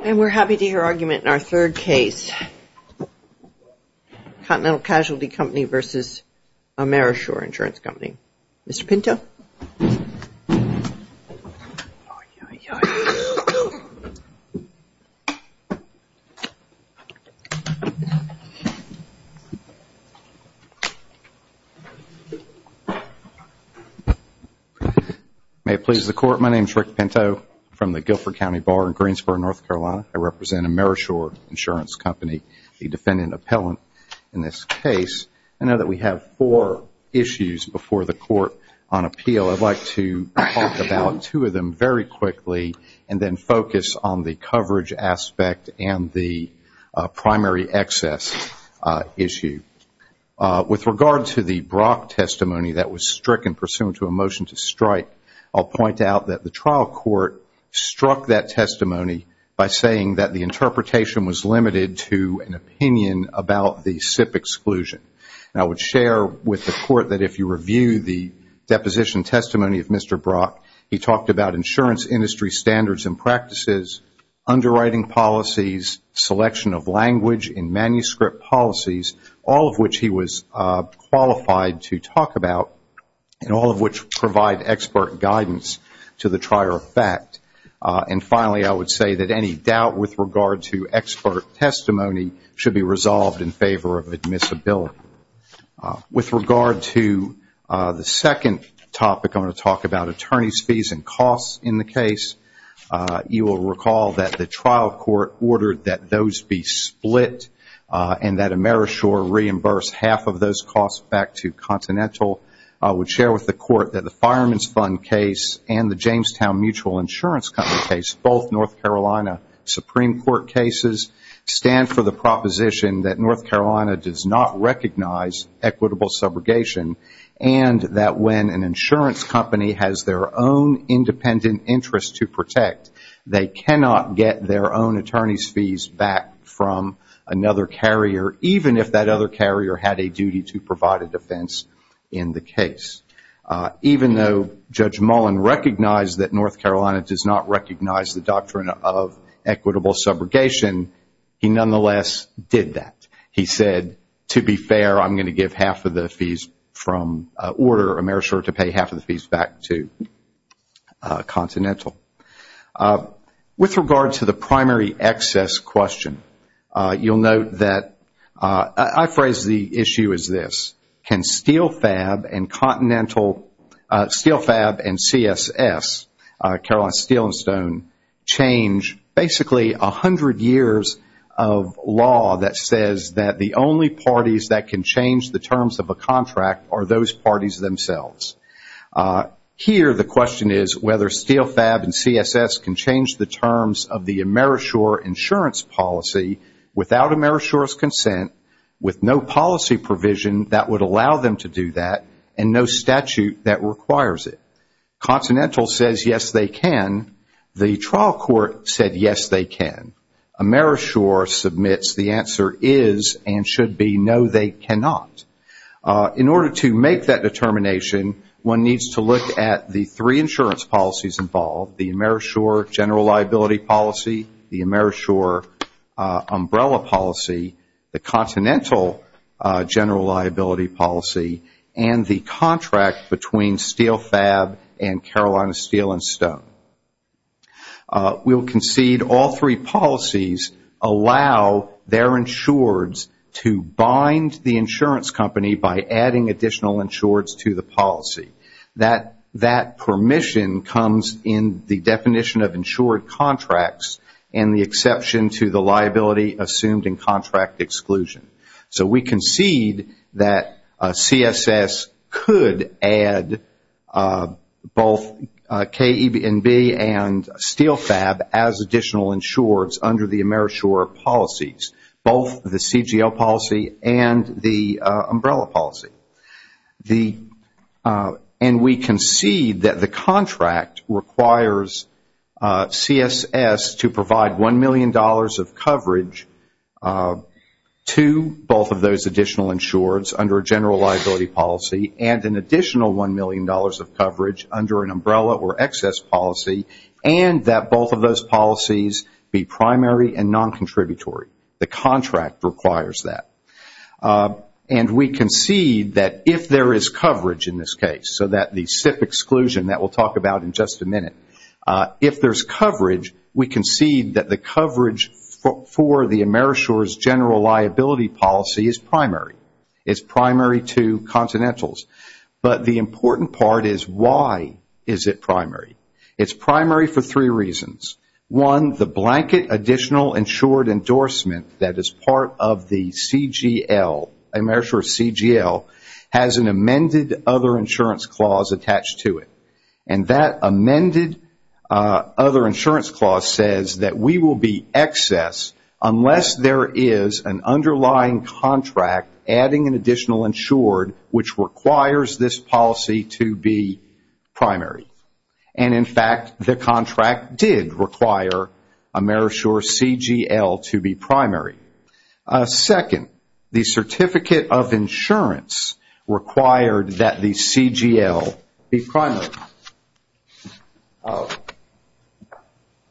And we're happy to hear argument in our third case, Continental Casualty Company v. Amerisure Insurance Company. Mr. Pinto? May it please the Court, my name is Rick Pinto from the Guilford County Bar in Greensboro, North Carolina. I represent Amerisure Insurance Company, the defendant appellant in this case. I know that we have four issues before the Court on appeal. I'd like to talk about two of them very quickly and then focus on the coverage aspect and the primary excess issue. With regard to the Brock testimony that was stricken pursuant to a motion to strike, I'll point out that the trial court struck that testimony by saying that the interpretation was limited to an opinion about the SIP exclusion. And I would share with the Court that if you review the deposition testimony of Mr. Brock, he talked about insurance industry standards and practices, underwriting policies, selection of language and manuscript policies, all of which he was qualified to talk about and all of which provide expert guidance to the trier of fact. And finally, I would say that any doubt with regard to expert testimony should be resolved in favor of admissibility. With regard to the second topic, I want to talk about attorney's fees and costs in the case. You will recall that the trial court ordered that those be split and that Amerisure reimburse half of those costs back to Continental. I would share with the Court that the Fireman's Fund case and the Jamestown Mutual Insurance Company case, both North Carolina Supreme Court cases, stand for the proposition that North Carolina does not recognize equitable subrogation. And that when an insurance company has their own independent interest to protect, they cannot get their own attorney's fees back from another carrier, even if that other carrier had a duty to provide a defense in the case. Even though Judge Mullen recognized that North Carolina does not recognize the doctrine of equitable subrogation, he nonetheless did that. He said, to be fair, I'm going to give half of the fees from order Amerisure to pay half of the fees back to Continental. With regard to the primary excess question, you will note that I phrased the issue as this. Can SteelFab and CSS, Carolina Steel and Stone, change basically 100 years of law that says that the only parties that can change the terms of a contract are those parties themselves? Here, the question is whether SteelFab and CSS can change the terms of the Amerisure insurance policy without Amerisure's consent, with no policy provision that would allow them to do that, and no statute that requires it. Continental says, yes, they can. The trial court said, yes, they can. Amerisure submits the answer is and should be, no, they cannot. In order to make that determination, one needs to look at the three insurance policies involved, the Amerisure general liability policy, the Amerisure umbrella policy, the Continental general liability policy, and the contract between SteelFab and Carolina Steel and Stone. We will concede all three policies allow their insureds to bind the insurance company by adding additional insureds to the policy. That permission comes in the definition of insured contracts and the exception to the liability assumed in contract exclusion. We concede that CSS could add both KENB and SteelFab as additional insureds under the Amerisure policies, both the CGL policy and the umbrella policy. We concede that the contract requires CSS to provide $1 million of coverage to both of those additional insureds under a general liability policy and an additional $1 million of coverage under an umbrella or excess policy, and that both of those policies be primary and non-contributory. The contract requires that. And we concede that if there is coverage in this case, so that the SIPP exclusion that we'll talk about in just a minute, if there's coverage, we concede that the coverage for the Amerisure's general liability policy is primary. It's primary to Continental's. But the important part is why is it primary? It's primary for three reasons. One, the blanket additional insured endorsement that is part of the CGL, Amerisure's CGL, has an amended other insurance clause attached to it. And that amended other insurance clause says that we will be excess unless there is an underlying contract adding an additional insured, which requires this policy to be primary. And in fact, the contract did require Amerisure's CGL to be primary. Second, the certificate of insurance required that the CGL be primary.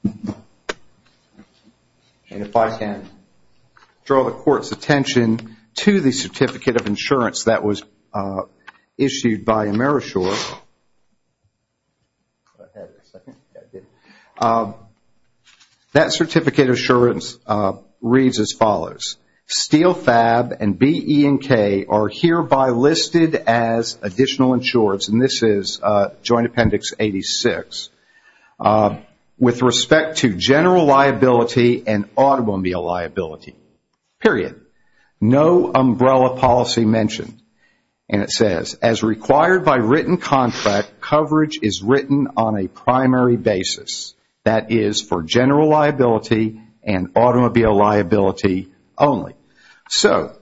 And if I can draw the court's attention to the certificate of insurance that was issued by Amerisure, that certificate of insurance reads as follows. Steel, Fab, and B, E, and K are hereby listed as additional insureds. And this is Joint Appendix 86. With respect to general liability and automobile liability, period, no umbrella policy mentioned. And it says, as required by written contract, coverage is written on a primary basis. That is for general liability and automobile liability only. So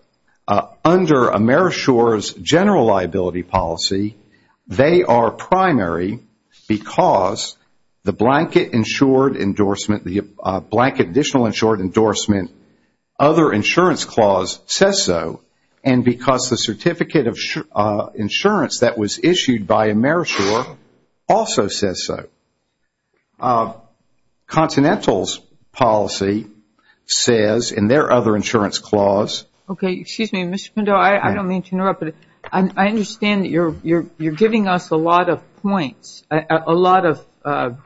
under Amerisure's general liability policy, they are primary because the blanket insured endorsement, the blanket additional insured endorsement, other insurance clause says so. And because the certificate of insurance that was issued by Amerisure also says so. Continental's policy says in their other insurance clause. Okay. Excuse me, Mr. Condole. I don't mean to interrupt, but I understand that you're giving us a lot of points, a lot of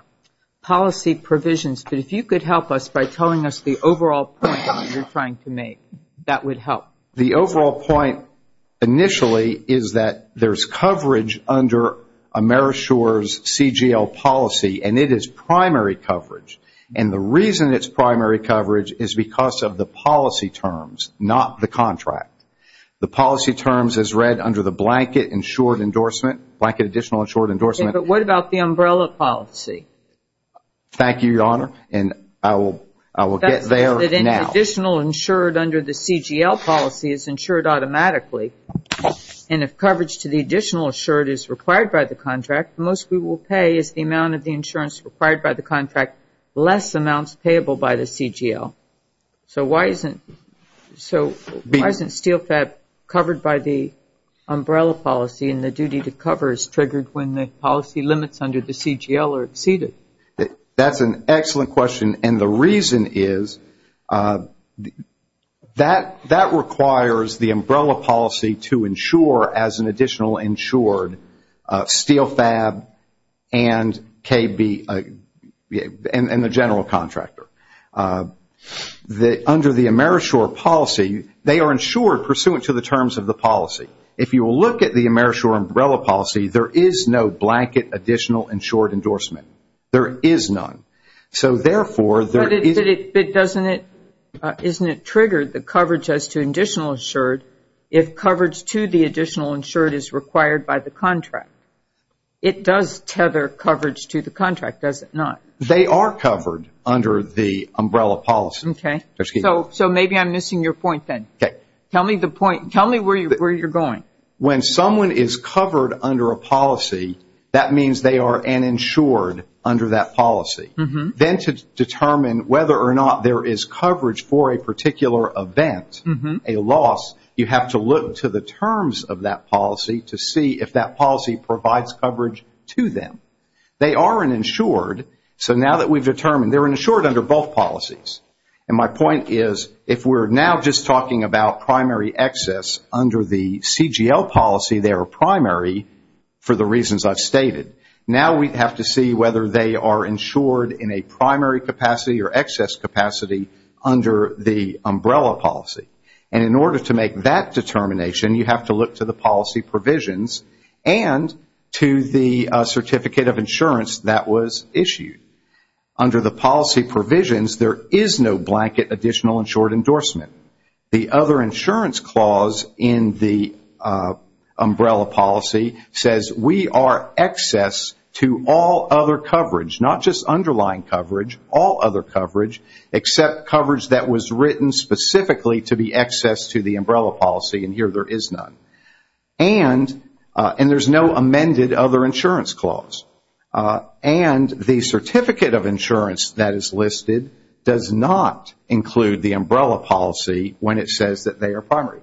policy provisions. But if you could help us by telling us the overall point you're trying to make, that would help. The overall point initially is that there's coverage under Amerisure's CGL policy, and it is primary coverage. And the reason it's primary coverage is because of the policy terms, not the contract. The policy terms is read under the blanket insured endorsement, blanket additional insured endorsement. Okay. But what about the umbrella policy? Thank you, Your Honor. And I will get there now. That means that any additional insured under the CGL policy is insured automatically. And if coverage to the additional insured is required by the contract, the most we will pay is the amount of the insurance required by the contract, less amounts payable by the CGL. So why isn't SteelFab covered by the umbrella policy, and the duty to cover is triggered when the policy limits under the CGL are exceeded? That's an excellent question. And the reason is that that requires the umbrella policy to insure as an additional insured SteelFab and KB, and the general contractor. Under the Amerisure policy, they are insured pursuant to the terms of the policy. If you will look at the Amerisure umbrella policy, there is no blanket additional insured endorsement. There is none. So therefore, there is. But doesn't it, isn't it triggered, the coverage as to additional insured, if coverage to the additional insured is required by the contract? It does tether coverage to the contract, does it not? They are covered under the umbrella policy. Okay. So maybe I'm missing your point then. Okay. Tell me the point. Tell me where you're going. When someone is covered under a policy, that means they are an insured under that policy. Then to determine whether or not there is coverage for a particular event, a loss, you have to look to the terms of that policy to see if that policy provides coverage to them. They are an insured, so now that we've determined they're insured under both policies. And my point is, if we're now just talking about primary excess under the CGL policy, they are primary for the reasons I've stated. Now we have to see whether they are insured in a primary capacity or excess capacity under the umbrella policy. And in order to make that determination, you have to look to the policy provisions and to the certificate of insurance that was issued. Under the policy provisions, there is no blanket additional insured endorsement. The other insurance clause in the umbrella policy says we are excess to all other coverage, not just underlying coverage, all other coverage, except coverage that was written specifically to be excess to the umbrella policy, and here there is none. And there's no amended other insurance clause. And the certificate of insurance that is listed does not include the umbrella policy when it says that they are primary.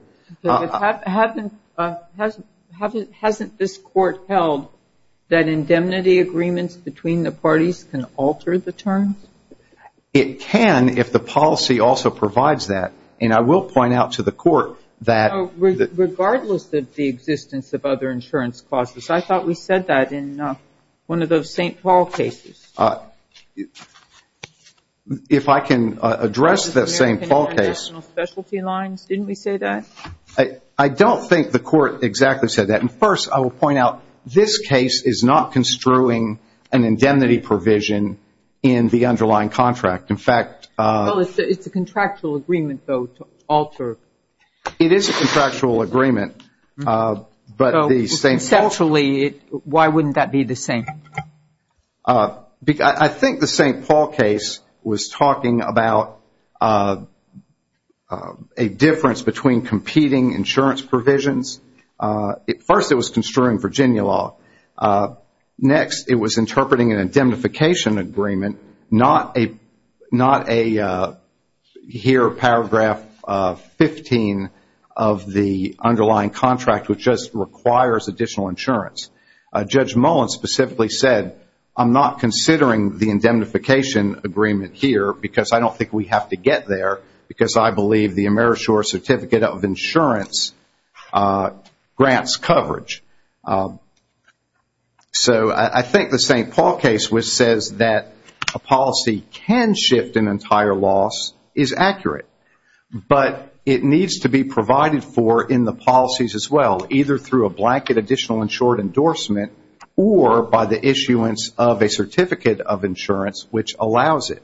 Hasn't this Court held that indemnity agreements between the parties can alter the terms? It can if the policy also provides that. And I will point out to the Court that... Regardless of the existence of other insurance clauses, I thought we said that in one of those St. Paul cases. If I can address the St. Paul case... Specialty lines, didn't we say that? I don't think the Court exactly said that. And, first, I will point out this case is not construing an indemnity provision in the underlying contract. In fact... Well, it's a contractual agreement, though, to alter. It is a contractual agreement. So, conceptually, why wouldn't that be the same? I think the St. Paul case was talking about a difference between competing insurance provisions. First, it was construing Virginia law. Next, it was interpreting an indemnification agreement, not a... Here, paragraph 15 of the underlying contract, which just requires additional insurance. Judge Mullen specifically said, I'm not considering the indemnification agreement here because I don't think we have to get there because I believe the AmeriShore Certificate of Insurance grants coverage. So, I think the St. Paul case, which says that a policy can shift an entire loss, is accurate. But it needs to be provided for in the policies as well, either through a blanket additional insured endorsement or by the issuance of a certificate of insurance which allows it.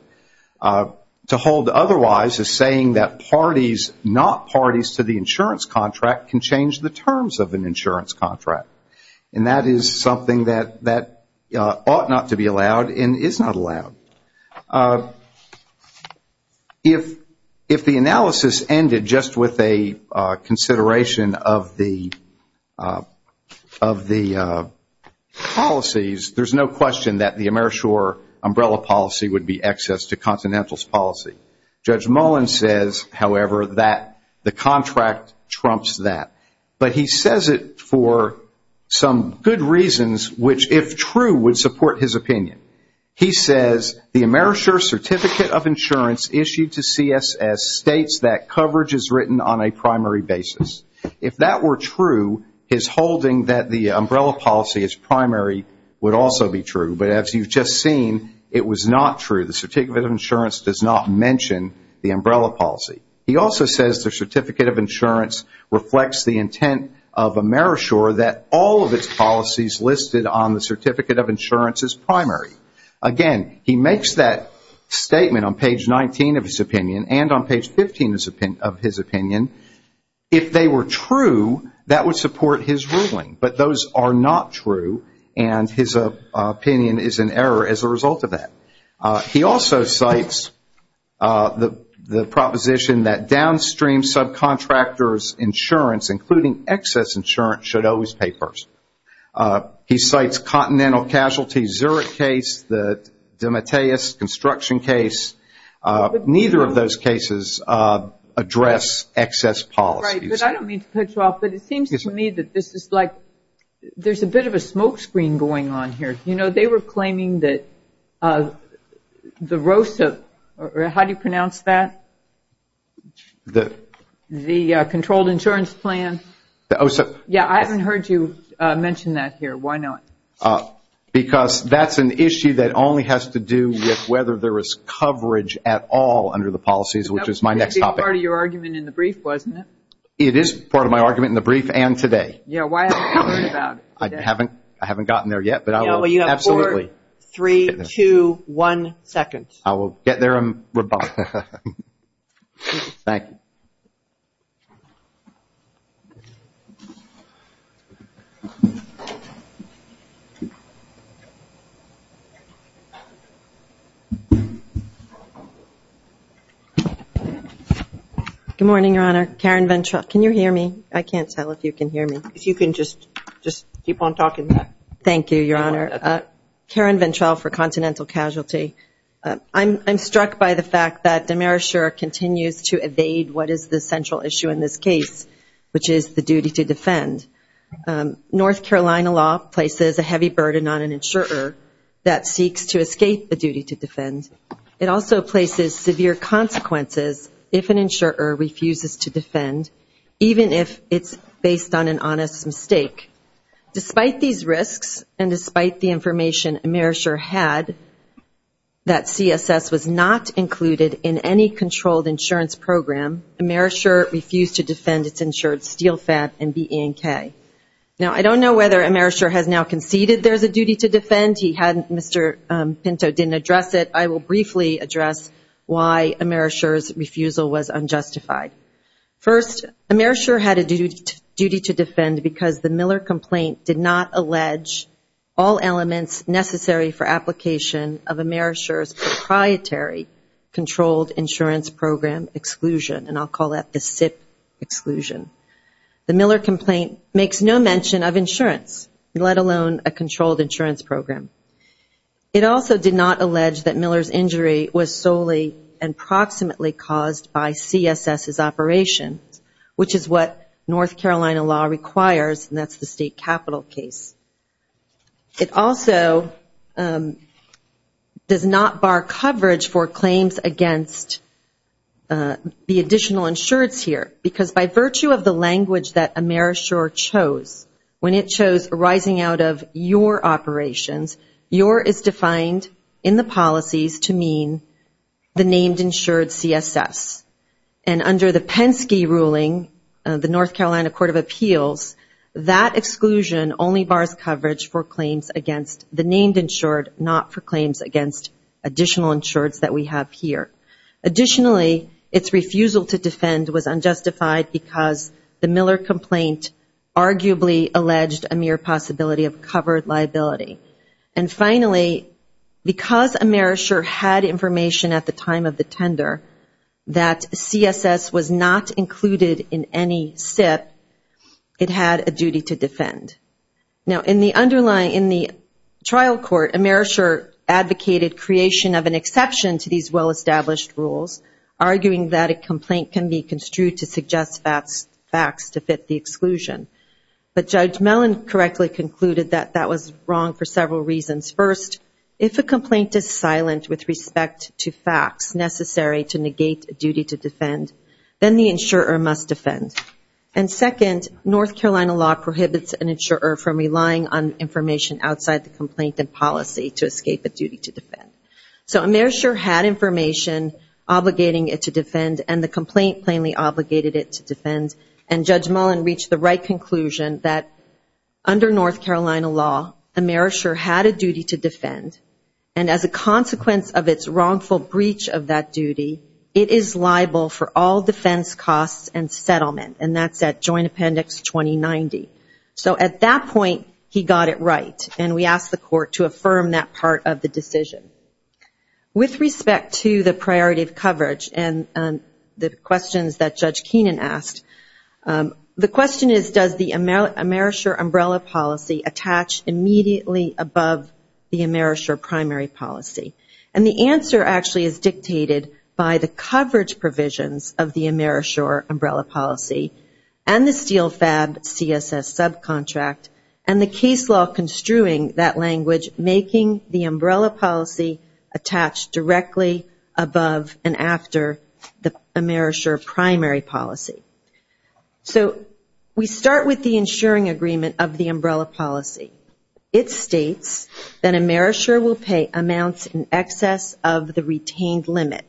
To hold otherwise is saying that parties, not parties to the insurance contract, can change the terms of an insurance contract. And that is something that ought not to be allowed and is not allowed. If the analysis ended just with a consideration of the policies, there's no question that the AmeriShore umbrella policy would be excess to Continentals policy. Judge Mullen says, however, that the contract trumps that. But he says it for some good reasons which, if true, would support his opinion. He says the AmeriShore Certificate of Insurance issued to CSS states that coverage is written on a primary basis. If that were true, his holding that the umbrella policy is primary would also be true. But as you've just seen, it was not true. The certificate of insurance does not mention the umbrella policy. He also says the certificate of insurance reflects the intent of AmeriShore that all of its policies listed on the certificate of insurance is primary. Again, he makes that statement on page 19 of his opinion and on page 15 of his opinion. If they were true, that would support his ruling. But those are not true, and his opinion is in error as a result of that. He also cites the proposition that downstream subcontractors' insurance, including excess insurance, should always pay first. He cites Continental Casualty Zurich case, the DeMatteis construction case. Neither of those cases address excess policies. Right, but I don't mean to cut you off, but it seems to me that this is like there's a bit of a smoke screen going on here. You know, they were claiming that the ROSIP, how do you pronounce that? The Controlled Insurance Plan. Yeah, I haven't heard you mention that here. Why not? Because that's an issue that only has to do with whether there is coverage at all under the policies, which is my next topic. That was part of your argument in the brief, wasn't it? It is part of my argument in the brief and today. Yeah, why haven't you heard about it? I haven't gotten there yet, but I will. Yeah, well, you have four, three, two, one second. I will get there and rebut. Thank you. Good morning, Your Honor. Karen Ventra. Can you hear me? I can't tell if you can hear me. If you can just keep on talking. Thank you, Your Honor. Karen Ventral for Continental Casualty. I'm struck by the fact that demerit sure continues to evade what is the central issue in this case, which is the duty to defend. North Carolina law places a heavy burden on an insurer that seeks to escape the duty to defend. It also places severe consequences if an insurer refuses to defend, even if it's based on an honest mistake. Despite these risks and despite the information Amerisher had, that CSS was not included in any controlled insurance program, Amerisher refused to defend its insured steel fab and BE&K. Now, I don't know whether Amerisher has now conceded there's a duty to defend. Mr. Pinto didn't address it. I will briefly address why Amerisher's refusal was unjustified. First, Amerisher had a duty to defend because the Miller complaint did not allege all elements necessary for application of Amerisher's proprietary controlled insurance program exclusion, and I'll call that the SIP exclusion. The Miller complaint makes no mention of insurance, let alone a controlled insurance program. It also did not allege that Miller's injury was solely and approximately caused by CSS's operations, which is what North Carolina law requires, and that's the state capital case. It also does not bar coverage for claims against the additional insurance here, because by virtue of the language that Amerisher chose, when it chose arising out of your operations, your is defined in the policies to mean the named insured CSS, and under the Penske ruling of the North Carolina Court of Appeals, that exclusion only bars coverage for claims against the named insured, not for claims against additional insureds that we have here. Additionally, its refusal to defend was unjustified because the Miller complaint arguably alleged a mere possibility of covered liability. And finally, because Amerisher had information at the time of the tender that CSS was not included in any SIP, it had a duty to defend. Now, in the trial court, Amerisher advocated creation of an exception to these well-established rules, arguing that a complaint can be construed to suggest facts to fit the exclusion. But Judge Mellon correctly concluded that that was wrong for several reasons. First, if a complaint is silent with respect to facts necessary to negate a duty to defend, then the insurer must defend. And second, North Carolina law prohibits an insurer from relying on information outside the complaint and policy to escape a duty to defend. So Amerisher had information obligating it to defend, and the complaint plainly obligated it to defend. And Judge Mellon reached the right conclusion that under North Carolina law, Amerisher had a duty to defend, and as a consequence of its wrongful breach of that duty, it is liable for all defense costs and settlement. And that's at Joint Appendix 2090. So at that point, he got it right, and we asked the court to affirm that part of the decision. With respect to the priority of coverage and the questions that Judge Keenan asked, the question is, does the Amerisher umbrella policy attach immediately above the Amerisher primary policy? And the answer actually is dictated by the coverage provisions of the Amerisher umbrella policy and the SteelFab CSS subcontract, and the case law construing that language, making the umbrella policy attach directly above and after the Amerisher primary policy. So we start with the insuring agreement of the umbrella policy. It states that Amerisher will pay amounts in excess of the retained limit,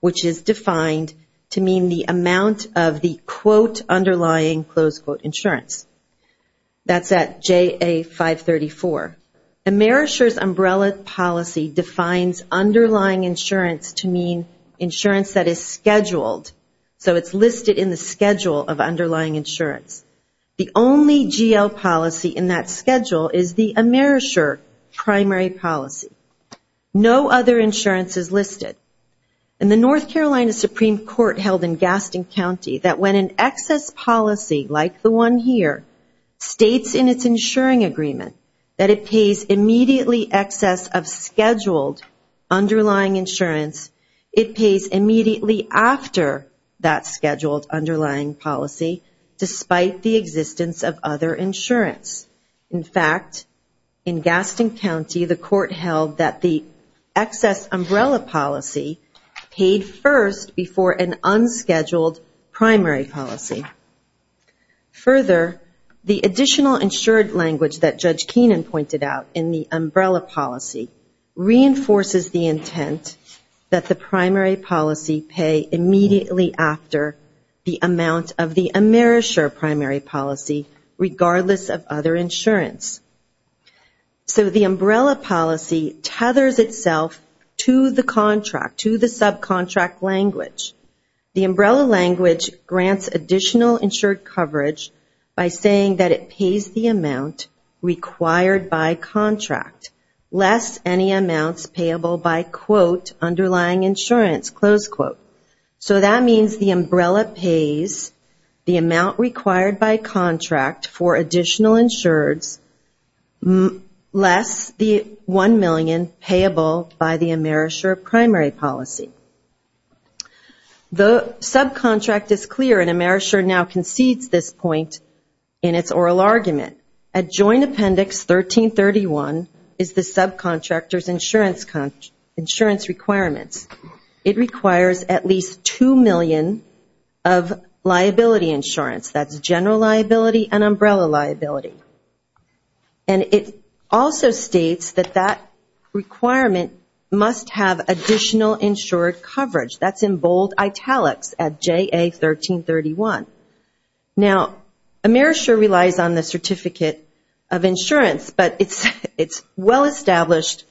which is defined to mean the amount of the, quote, underlying, close quote, insurance. That's at JA 534. Amerisher's umbrella policy defines underlying insurance to mean insurance that is scheduled, so it's listed in the schedule of underlying insurance. The only GL policy in that schedule is the Amerisher primary policy. No other insurance is listed. And the North Carolina Supreme Court held in Gaston County that when an excess policy like the one here states in its insuring agreement that it pays immediately excess of scheduled underlying insurance, it pays immediately after that scheduled underlying policy, despite the existence of other insurance. In fact, in Gaston County, the court held that the excess umbrella policy paid first before an unscheduled primary policy. Further, the additional insured language that Judge Keenan pointed out in the umbrella policy reinforces the intent that the primary policy pay immediately after the amount of the Amerisher primary policy, regardless of other insurance. So the umbrella policy tethers itself to the contract, to the subcontract language. The umbrella language grants additional insured coverage by saying that it pays the amount required by contract, less any amounts payable by, quote, underlying insurance, close quote. So that means the umbrella pays the amount required by contract for additional insureds, less the $1 million payable by the Amerisher primary policy. The subcontract is clear, and Amerisher now concedes this point in its oral argument. Adjoined Appendix 1331 is the subcontractor's insurance requirements. It requires at least $2 million of liability insurance. That's general liability and umbrella liability. And it also states that that requirement must have additional insured coverage. That's in bold italics at JA 1331. Now, Amerisher relies on the certificate of insurance, but it's well established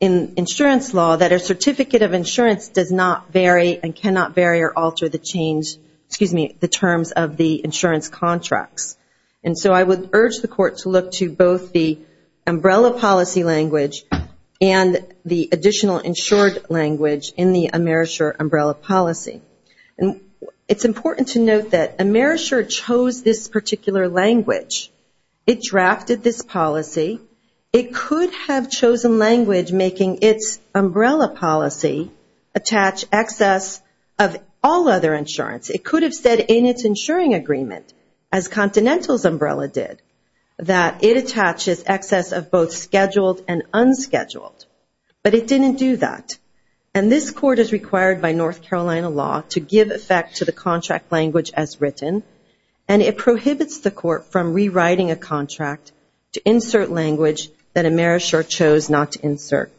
in insurance law that a certificate of insurance does not vary and cannot vary or alter the terms of the insurance contracts. And so I would urge the Court to look to both the umbrella policy language and the additional insured language in the Amerisher umbrella policy. And it's important to note that Amerisher chose this particular language. It drafted this policy. It could have chosen language making its umbrella policy attach excess of all other insurance. It could have said in its insuring agreement, as Continental's umbrella did, that it attaches excess of both scheduled and unscheduled. But it didn't do that. And this Court is required by North Carolina law to give effect to the contract language as written, and it prohibits the Court from rewriting a contract to insert language that Amerisher chose not to insert.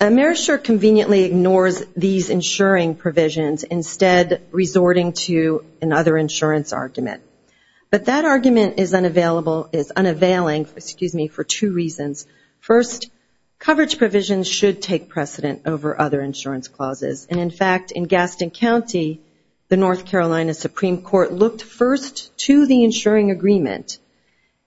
Amerisher conveniently ignores these insuring provisions, instead resorting to another insurance argument. But that argument is unavailing for two reasons. First, coverage provisions should take precedent over other insurance clauses. And, in fact, in Gaston County, the North Carolina Supreme Court looked first to the insuring agreement,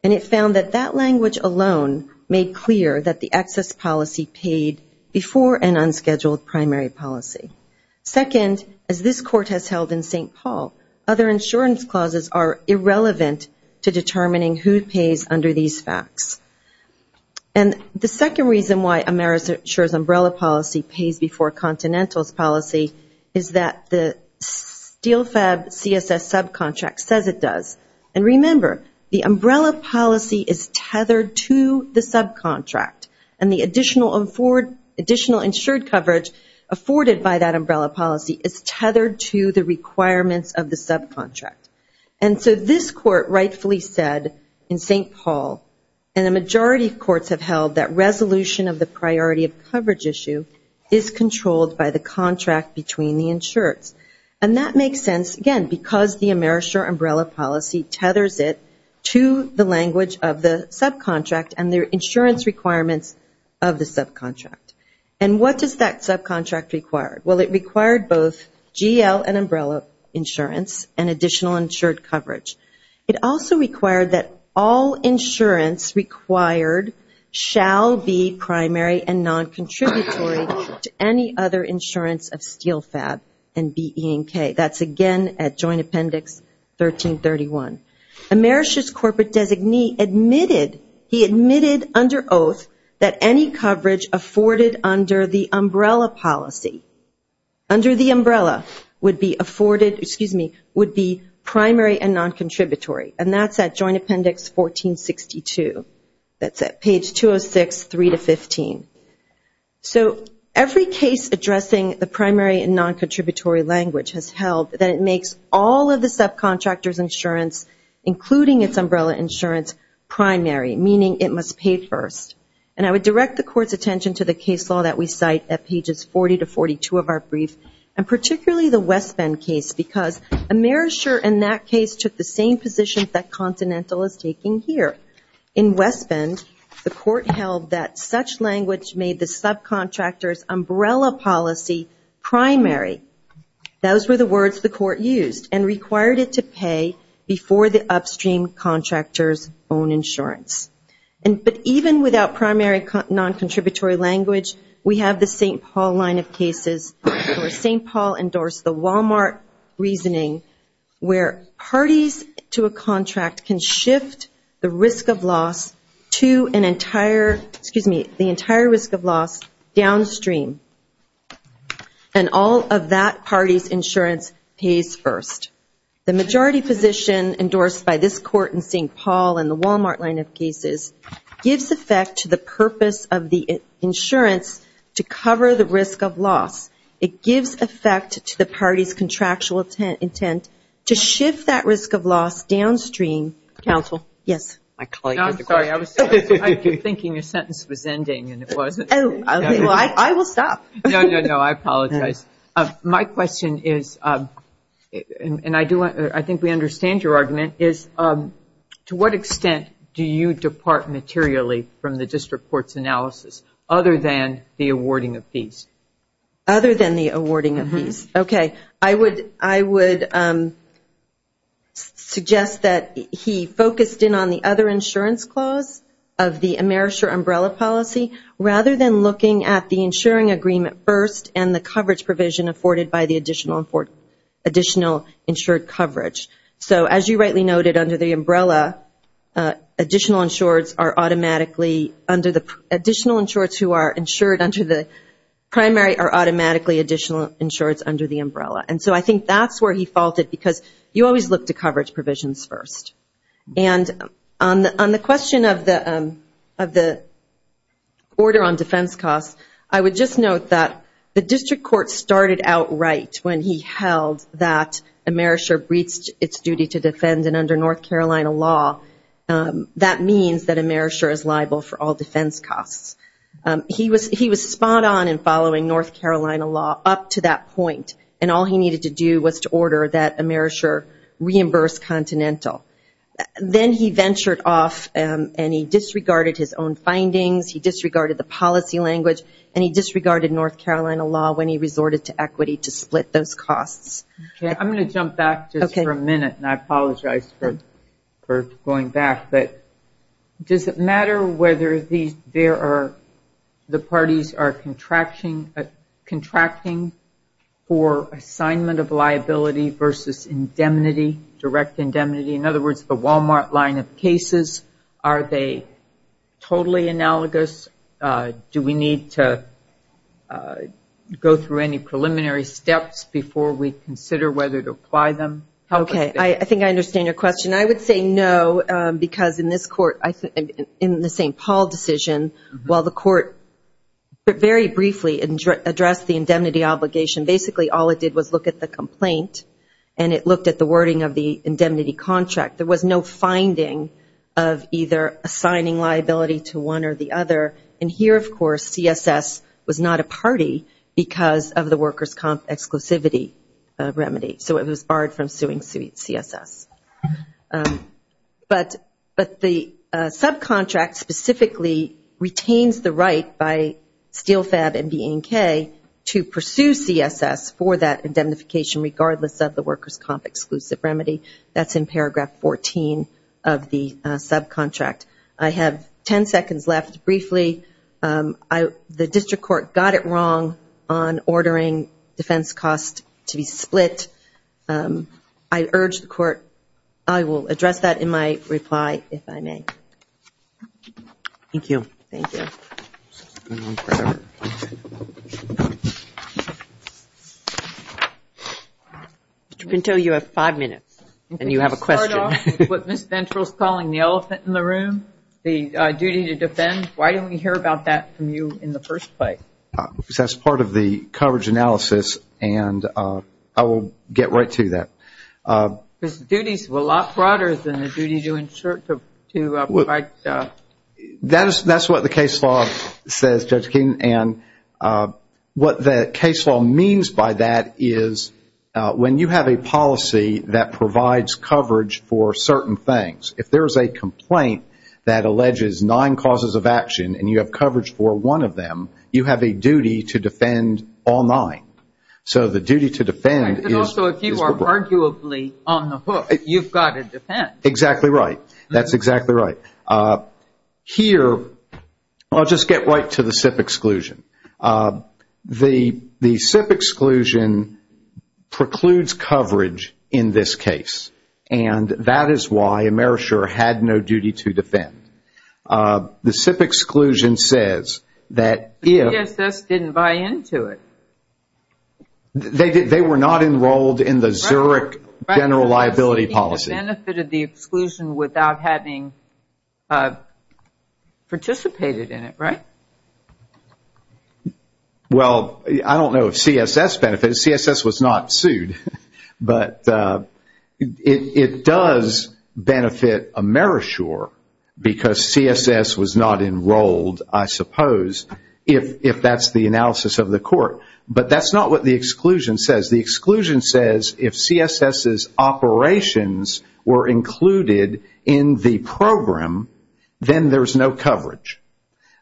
and it found that that language alone made clear that the excess policy paid before an unscheduled primary policy. Second, as this Court has held in St. Paul, other insurance clauses are irrelevant to determining who pays under these facts. And the second reason why Amerisher's umbrella policy pays before Continental's policy is that the SteelFab CSS subcontract says it does. And remember, the umbrella policy is tethered to the subcontract, and the additional insured coverage afforded by that umbrella policy is tethered to the requirements of the subcontract. And so this Court rightfully said in St. Paul, and a majority of courts have held that resolution of the priority of coverage issue is controlled by the contract between the insureds. And that makes sense, again, because the Amerisher umbrella policy tethers it to the language of the subcontract and their insurance requirements of the subcontract. And what does that subcontract require? Well, it required both GL and umbrella insurance and additional insured coverage. It also required that all insurance required shall be primary and non-contributory to any other insurance of SteelFab and BE&K. That's again at Joint Appendix 1331. Amerisher's corporate designee admitted, he admitted under oath, that any coverage afforded under the umbrella policy, under the umbrella, would be afforded, excuse me, would be primary and non-contributory. And that's at Joint Appendix 1462. That's at page 206, 3 to 15. So every case addressing the primary and non-contributory language has held that it makes all of the subcontractors' insurance, including its umbrella insurance, primary, meaning it must pay first. And I would direct the Court's attention to the case law that we cite at pages 40 to 42 of our brief, and particularly the West Bend case, because Amerisher in that case took the same position that Continental is taking here. In West Bend, the Court held that such language made the subcontractors' umbrella policy primary. Those were the words the Court used and required it to pay before the upstream contractors' own insurance. But even without primary non-contributory language, we have the St. Paul line of cases, where St. Paul endorsed the Walmart reasoning where parties to a contract can shift the risk of loss to an entire, excuse me, the entire risk of loss downstream, and all of that party's insurance pays first. The majority position endorsed by this Court in St. Paul and the Walmart line of cases gives effect to the purpose of the insurance to cover the risk of loss. It gives effect to the party's contractual intent to shift that risk of loss downstream. Counsel? Yes. I'm sorry. I was thinking your sentence was ending and it wasn't. I will stop. No, no, no. I apologize. My question is, and I think we understand your argument, is to what extent do you depart materially from the district court's analysis other than the awarding of fees? Other than the awarding of fees. Okay. I would suggest that he focused in on the other insurance clause of the AmeriShare umbrella policy rather than looking at the insuring agreement first and the coverage provision afforded by the additional insured coverage. So as you rightly noted, under the umbrella, additional insureds who are insured under the primary are automatically additional insureds under the umbrella. And so I think that's where he faulted because you always look to coverage provisions first. And on the question of the order on defense costs, I would just note that the district court started outright when he held that AmeriShare breached its duty to defend, and under North Carolina law that means that AmeriShare is liable for all defense costs. He was spot on in following North Carolina law up to that point, and all he needed to do was to order that AmeriShare reimburse Continental. Then he ventured off and he disregarded his own findings, he disregarded the policy language, and he disregarded North Carolina law when he resorted to equity to split those costs. Okay. I'm going to jump back just for a minute, and I apologize for going back. Does it matter whether the parties are contracting for assignment of liability versus indemnity, direct indemnity? In other words, the Walmart line of cases, are they totally analogous? Do we need to go through any preliminary steps before we consider whether to apply them? Okay. I think I understand your question. I would say no because in this court, in the St. Paul decision, while the court very briefly addressed the indemnity obligation, basically all it did was look at the complaint and it looked at the wording of the indemnity contract. There was no finding of either assigning liability to one or the other, and here, of course, CSS was not a party because of the workers' comp exclusivity remedy, so it was barred from suing CSS. But the subcontract specifically retains the right by SteelFab and BNK to pursue CSS for that indemnification regardless of the workers' comp exclusive remedy. That's in paragraph 14 of the subcontract. I have 10 seconds left. Briefly, the district court got it wrong on ordering defense costs to be split. I urge the court, I will address that in my reply if I may. Thank you. Thank you. Ms. Pinto, you have five minutes and you have a question. What Ms. Ventral is calling the elephant in the room, the duty to defend. Why didn't we hear about that from you in the first place? Because that's part of the coverage analysis and I will get right to that. Because the duties were a lot broader than the duty to provide. That's what the case law says, Judge Keenan, and what the case law means by that is when you have a policy that provides coverage for certain things, if there is a complaint that alleges nine causes of action and you have coverage for one of them, you have a duty to defend all nine. So the duty to defend is broad. But also if you are arguably on the hook, you've got to defend. Exactly right. That's exactly right. Here, I'll just get right to the SIP exclusion. The SIP exclusion precludes coverage in this case, and that is why AmeriShare had no duty to defend. The SIP exclusion says that if- The CSS didn't buy into it. They were not enrolled in the Zurich general liability policy. They benefited the exclusion without having participated in it, right? Well, I don't know if CSS benefited. CSS was not sued. But it does benefit AmeriShare because CSS was not enrolled, I suppose, if that's the analysis of the court. But that's not what the exclusion says. The exclusion says if CSS's operations were included in the program, then there's no coverage.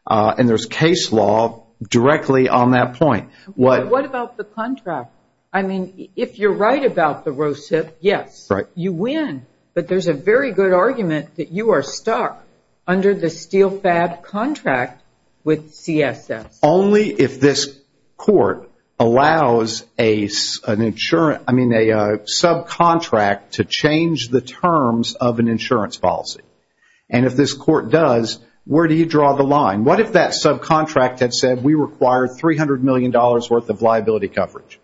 And there's case law directly on that point. What about the contract? I mean, if you're right about the RoHSIP, yes, you win. But there's a very good argument that you are stuck under the SteelFab contract with CSS. Only if this court allows a subcontract to change the terms of an insurance policy. And if this court does, where do you draw the line? What if that subcontract had said we require $300 million worth of liability coverage?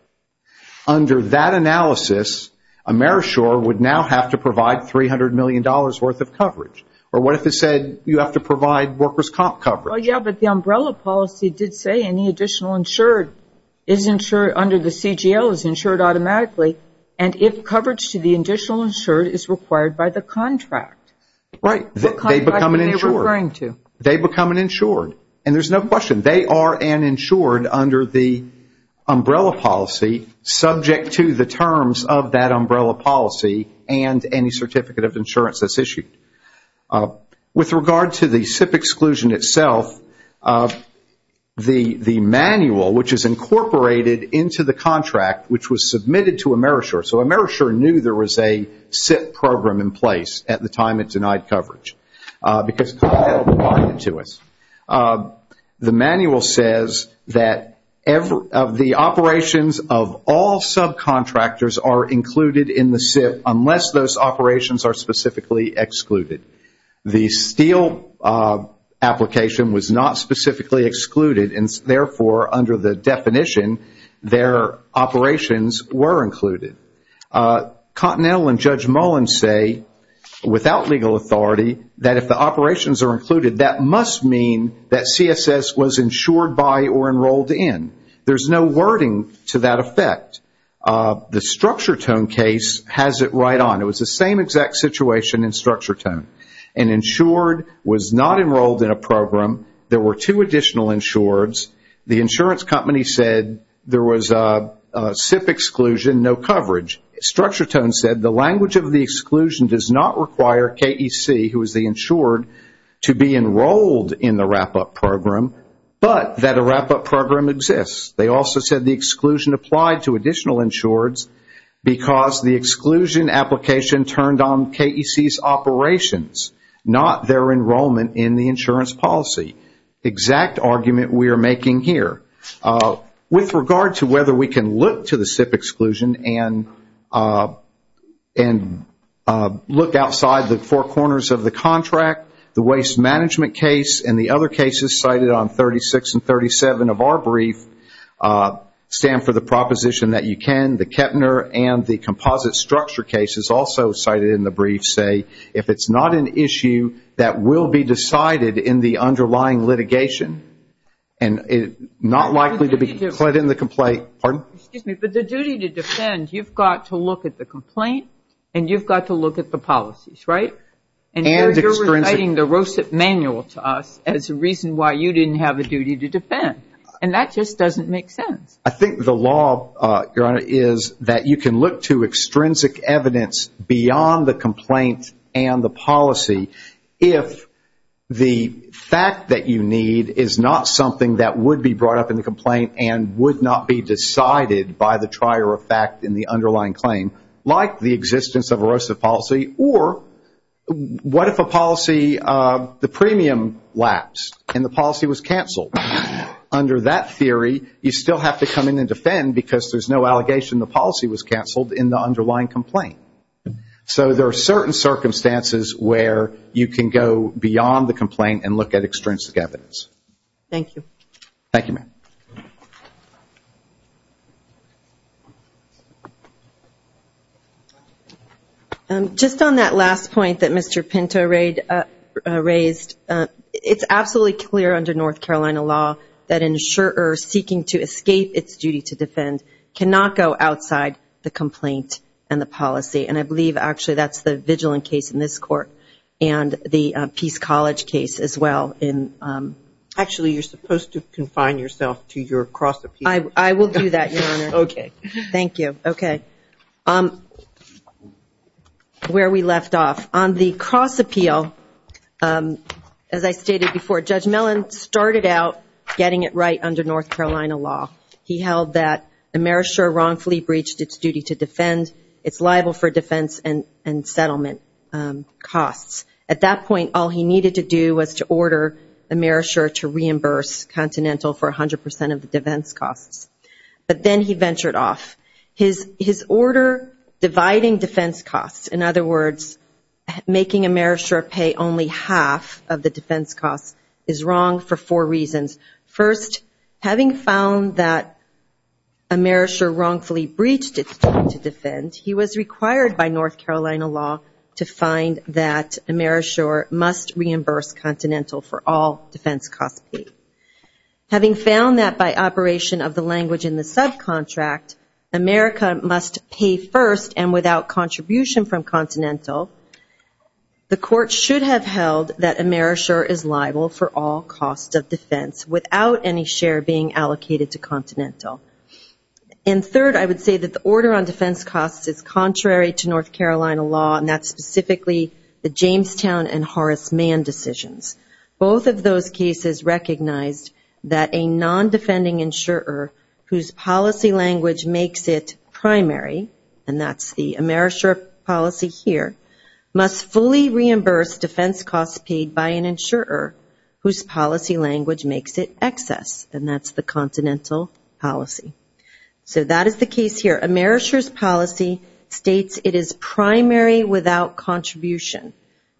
Under that analysis, AmeriShare would now have to provide $300 million worth of coverage. Or what if it said you have to provide workers' comp coverage? Well, yeah, but the umbrella policy did say any additional insured under the CGL is insured automatically. And if coverage to the additional insured is required by the contract. Right. They become an insured. They become an insured. And there's no question. They are an insured under the umbrella policy subject to the terms of that umbrella policy and any certificate of insurance that's issued. With regard to the SIP exclusion itself, the manual, which is incorporated into the contract, which was submitted to AmeriShare. So AmeriShare knew there was a SIP program in place at the time it denied coverage. Because the manual says that the operations of all subcontractors are included in the SIP unless those operations are specifically excluded. The steel application was not specifically excluded. And therefore, under the definition, their operations were included. Cottonelle and Judge Mullen say, without legal authority, that if the operations are included, that must mean that CSS was insured by or enrolled in. There's no wording to that effect. The StructureTone case has it right on. It was the same exact situation in StructureTone. An insured was not enrolled in a program. There were two additional insureds. The insurance company said there was a SIP exclusion, no coverage. StructureTone said the language of the exclusion does not require KEC, who is the insured, to be enrolled in the wrap-up program, but that a wrap-up program exists. They also said the exclusion applied to additional insureds because the exclusion application turned on KEC's operations, not their enrollment in the insurance policy. Exact argument we are making here. With regard to whether we can look to the SIP exclusion and look outside the four corners of the contract, the waste management case and the other cases cited on 36 and 37 of our brief stand for the proposition that you can. The Kepner and the composite structure case is also cited in the brief, say, if it's not an issue that will be decided in the underlying litigation and not likely to be put in the complaint. Excuse me, but the duty to defend, you've got to look at the complaint and you've got to look at the policies, right? And you're reciting the ROSIP manual to us as a reason why you didn't have a duty to defend. And that just doesn't make sense. I think the law, Your Honor, is that you can look to extrinsic evidence beyond the complaint and the policy if the fact that you need is not something that would be brought up in the complaint and would not be decided by the trier of fact in the underlying claim, like the existence of a ROSIP policy, or what if a policy, the premium lapsed and the policy was canceled? Under that theory, you still have to come in and defend because there's no allegation the policy was canceled in the underlying complaint. So there are certain circumstances where you can go beyond the complaint and look at extrinsic evidence. Thank you. Thank you, ma'am. Just on that last point that Mr. Pinto raised, it's absolutely clear under North Carolina law that an insurer seeking to escape its duty to defend cannot go outside the complaint and the policy. And I believe, actually, that's the Vigilant case in this court and the Peace College case as well. Actually, you're supposed to confine yourself to your cross-appeal. I will do that, Your Honor. Okay. Thank you. Okay. Where we left off. On the cross-appeal, as I stated before, Judge Mellon started out getting it right under North Carolina law. He held that a merisher wrongfully breached its duty to defend. It's liable for defense and settlement costs. At that point, all he needed to do was to order a merisher to reimburse Continental for 100% of the defense costs. But then he ventured off. His order dividing defense costs, in other words, making a merisher pay only half of the defense costs, is wrong for four reasons. First, having found that a merisher wrongfully breached its duty to defend, he was required by North Carolina law to find that a merisher must reimburse Continental for all defense costs paid. Having found that by operation of the language in the subcontract, America must pay first and without contribution from Continental, the court should have held that a merisher is liable for all costs of defense without any share being allocated to Continental. And third, I would say that the order on defense costs is contrary to North Carolina law, and that's specifically the Jamestown and Horace Mann decisions. Both of those cases recognized that a non-defending insurer whose policy language makes it primary, and that's the merisher policy here, must fully reimburse defense costs paid by an insurer whose policy language makes it excess, and that's the Continental policy. So that is the case here. A merisher's policy states it is primary without contribution.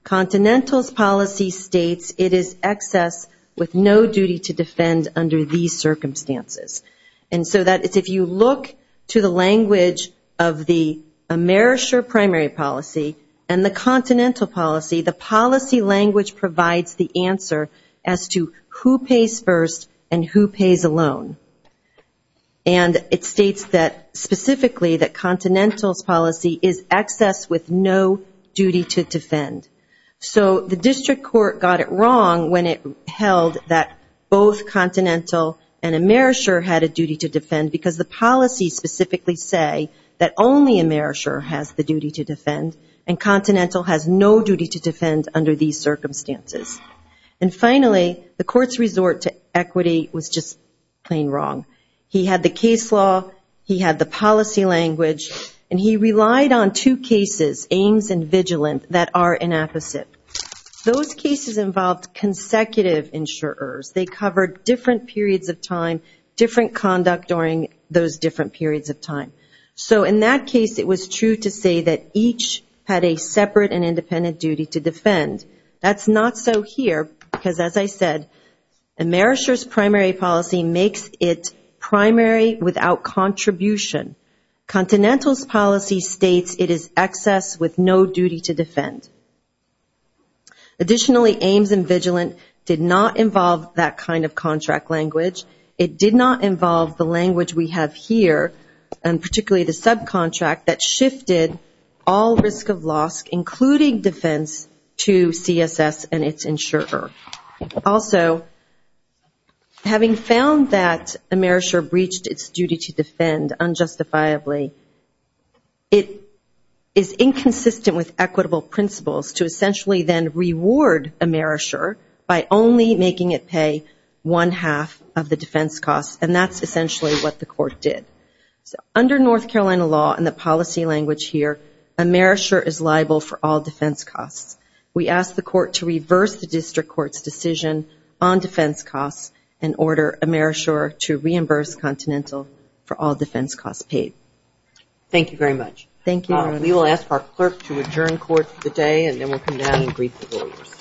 Continental's policy states it is excess with no duty to defend under these circumstances. And so that is if you look to the language of the merisher primary policy and the Continental policy, the policy language provides the answer as to who pays first and who pays a loan. And it states specifically that Continental's policy is excess with no duty to defend. So the district court got it wrong when it held that both Continental and a merisher had a duty to defend because the policies specifically say that only a merisher has the duty to defend, and Continental has no duty to defend under these circumstances. And finally, the court's resort to equity was just plain wrong. He had the case law, he had the policy language, and he relied on two cases, Ames and Vigilant, that are an opposite. Those cases involved consecutive insurers. They covered different periods of time, different conduct during those different periods of time. So in that case, it was true to say that each had a separate and independent duty to defend. That's not so here because, as I said, a merisher's primary policy makes it primary without contribution. Continental's policy states it is excess with no duty to defend. Additionally, Ames and Vigilant did not involve that kind of contract language. It did not involve the language we have here, and particularly the subcontract, that shifted all risk of loss, including defense, to CSS and its insurer. Also, having found that a merisher breached its duty to defend unjustifiably, it is inconsistent with equitable principles to essentially then reward a merisher by only making it pay one-half of the defense cost, and that's essentially what the court did. So under North Carolina law and the policy language here, a merisher is liable for all defense costs. We ask the court to reverse the district court's decision on defense costs and order a merisher to reimburse Continental for all defense costs paid. Thank you very much. Thank you. We will ask our clerk to adjourn court for the day, and then we'll come down and greet the lawyers.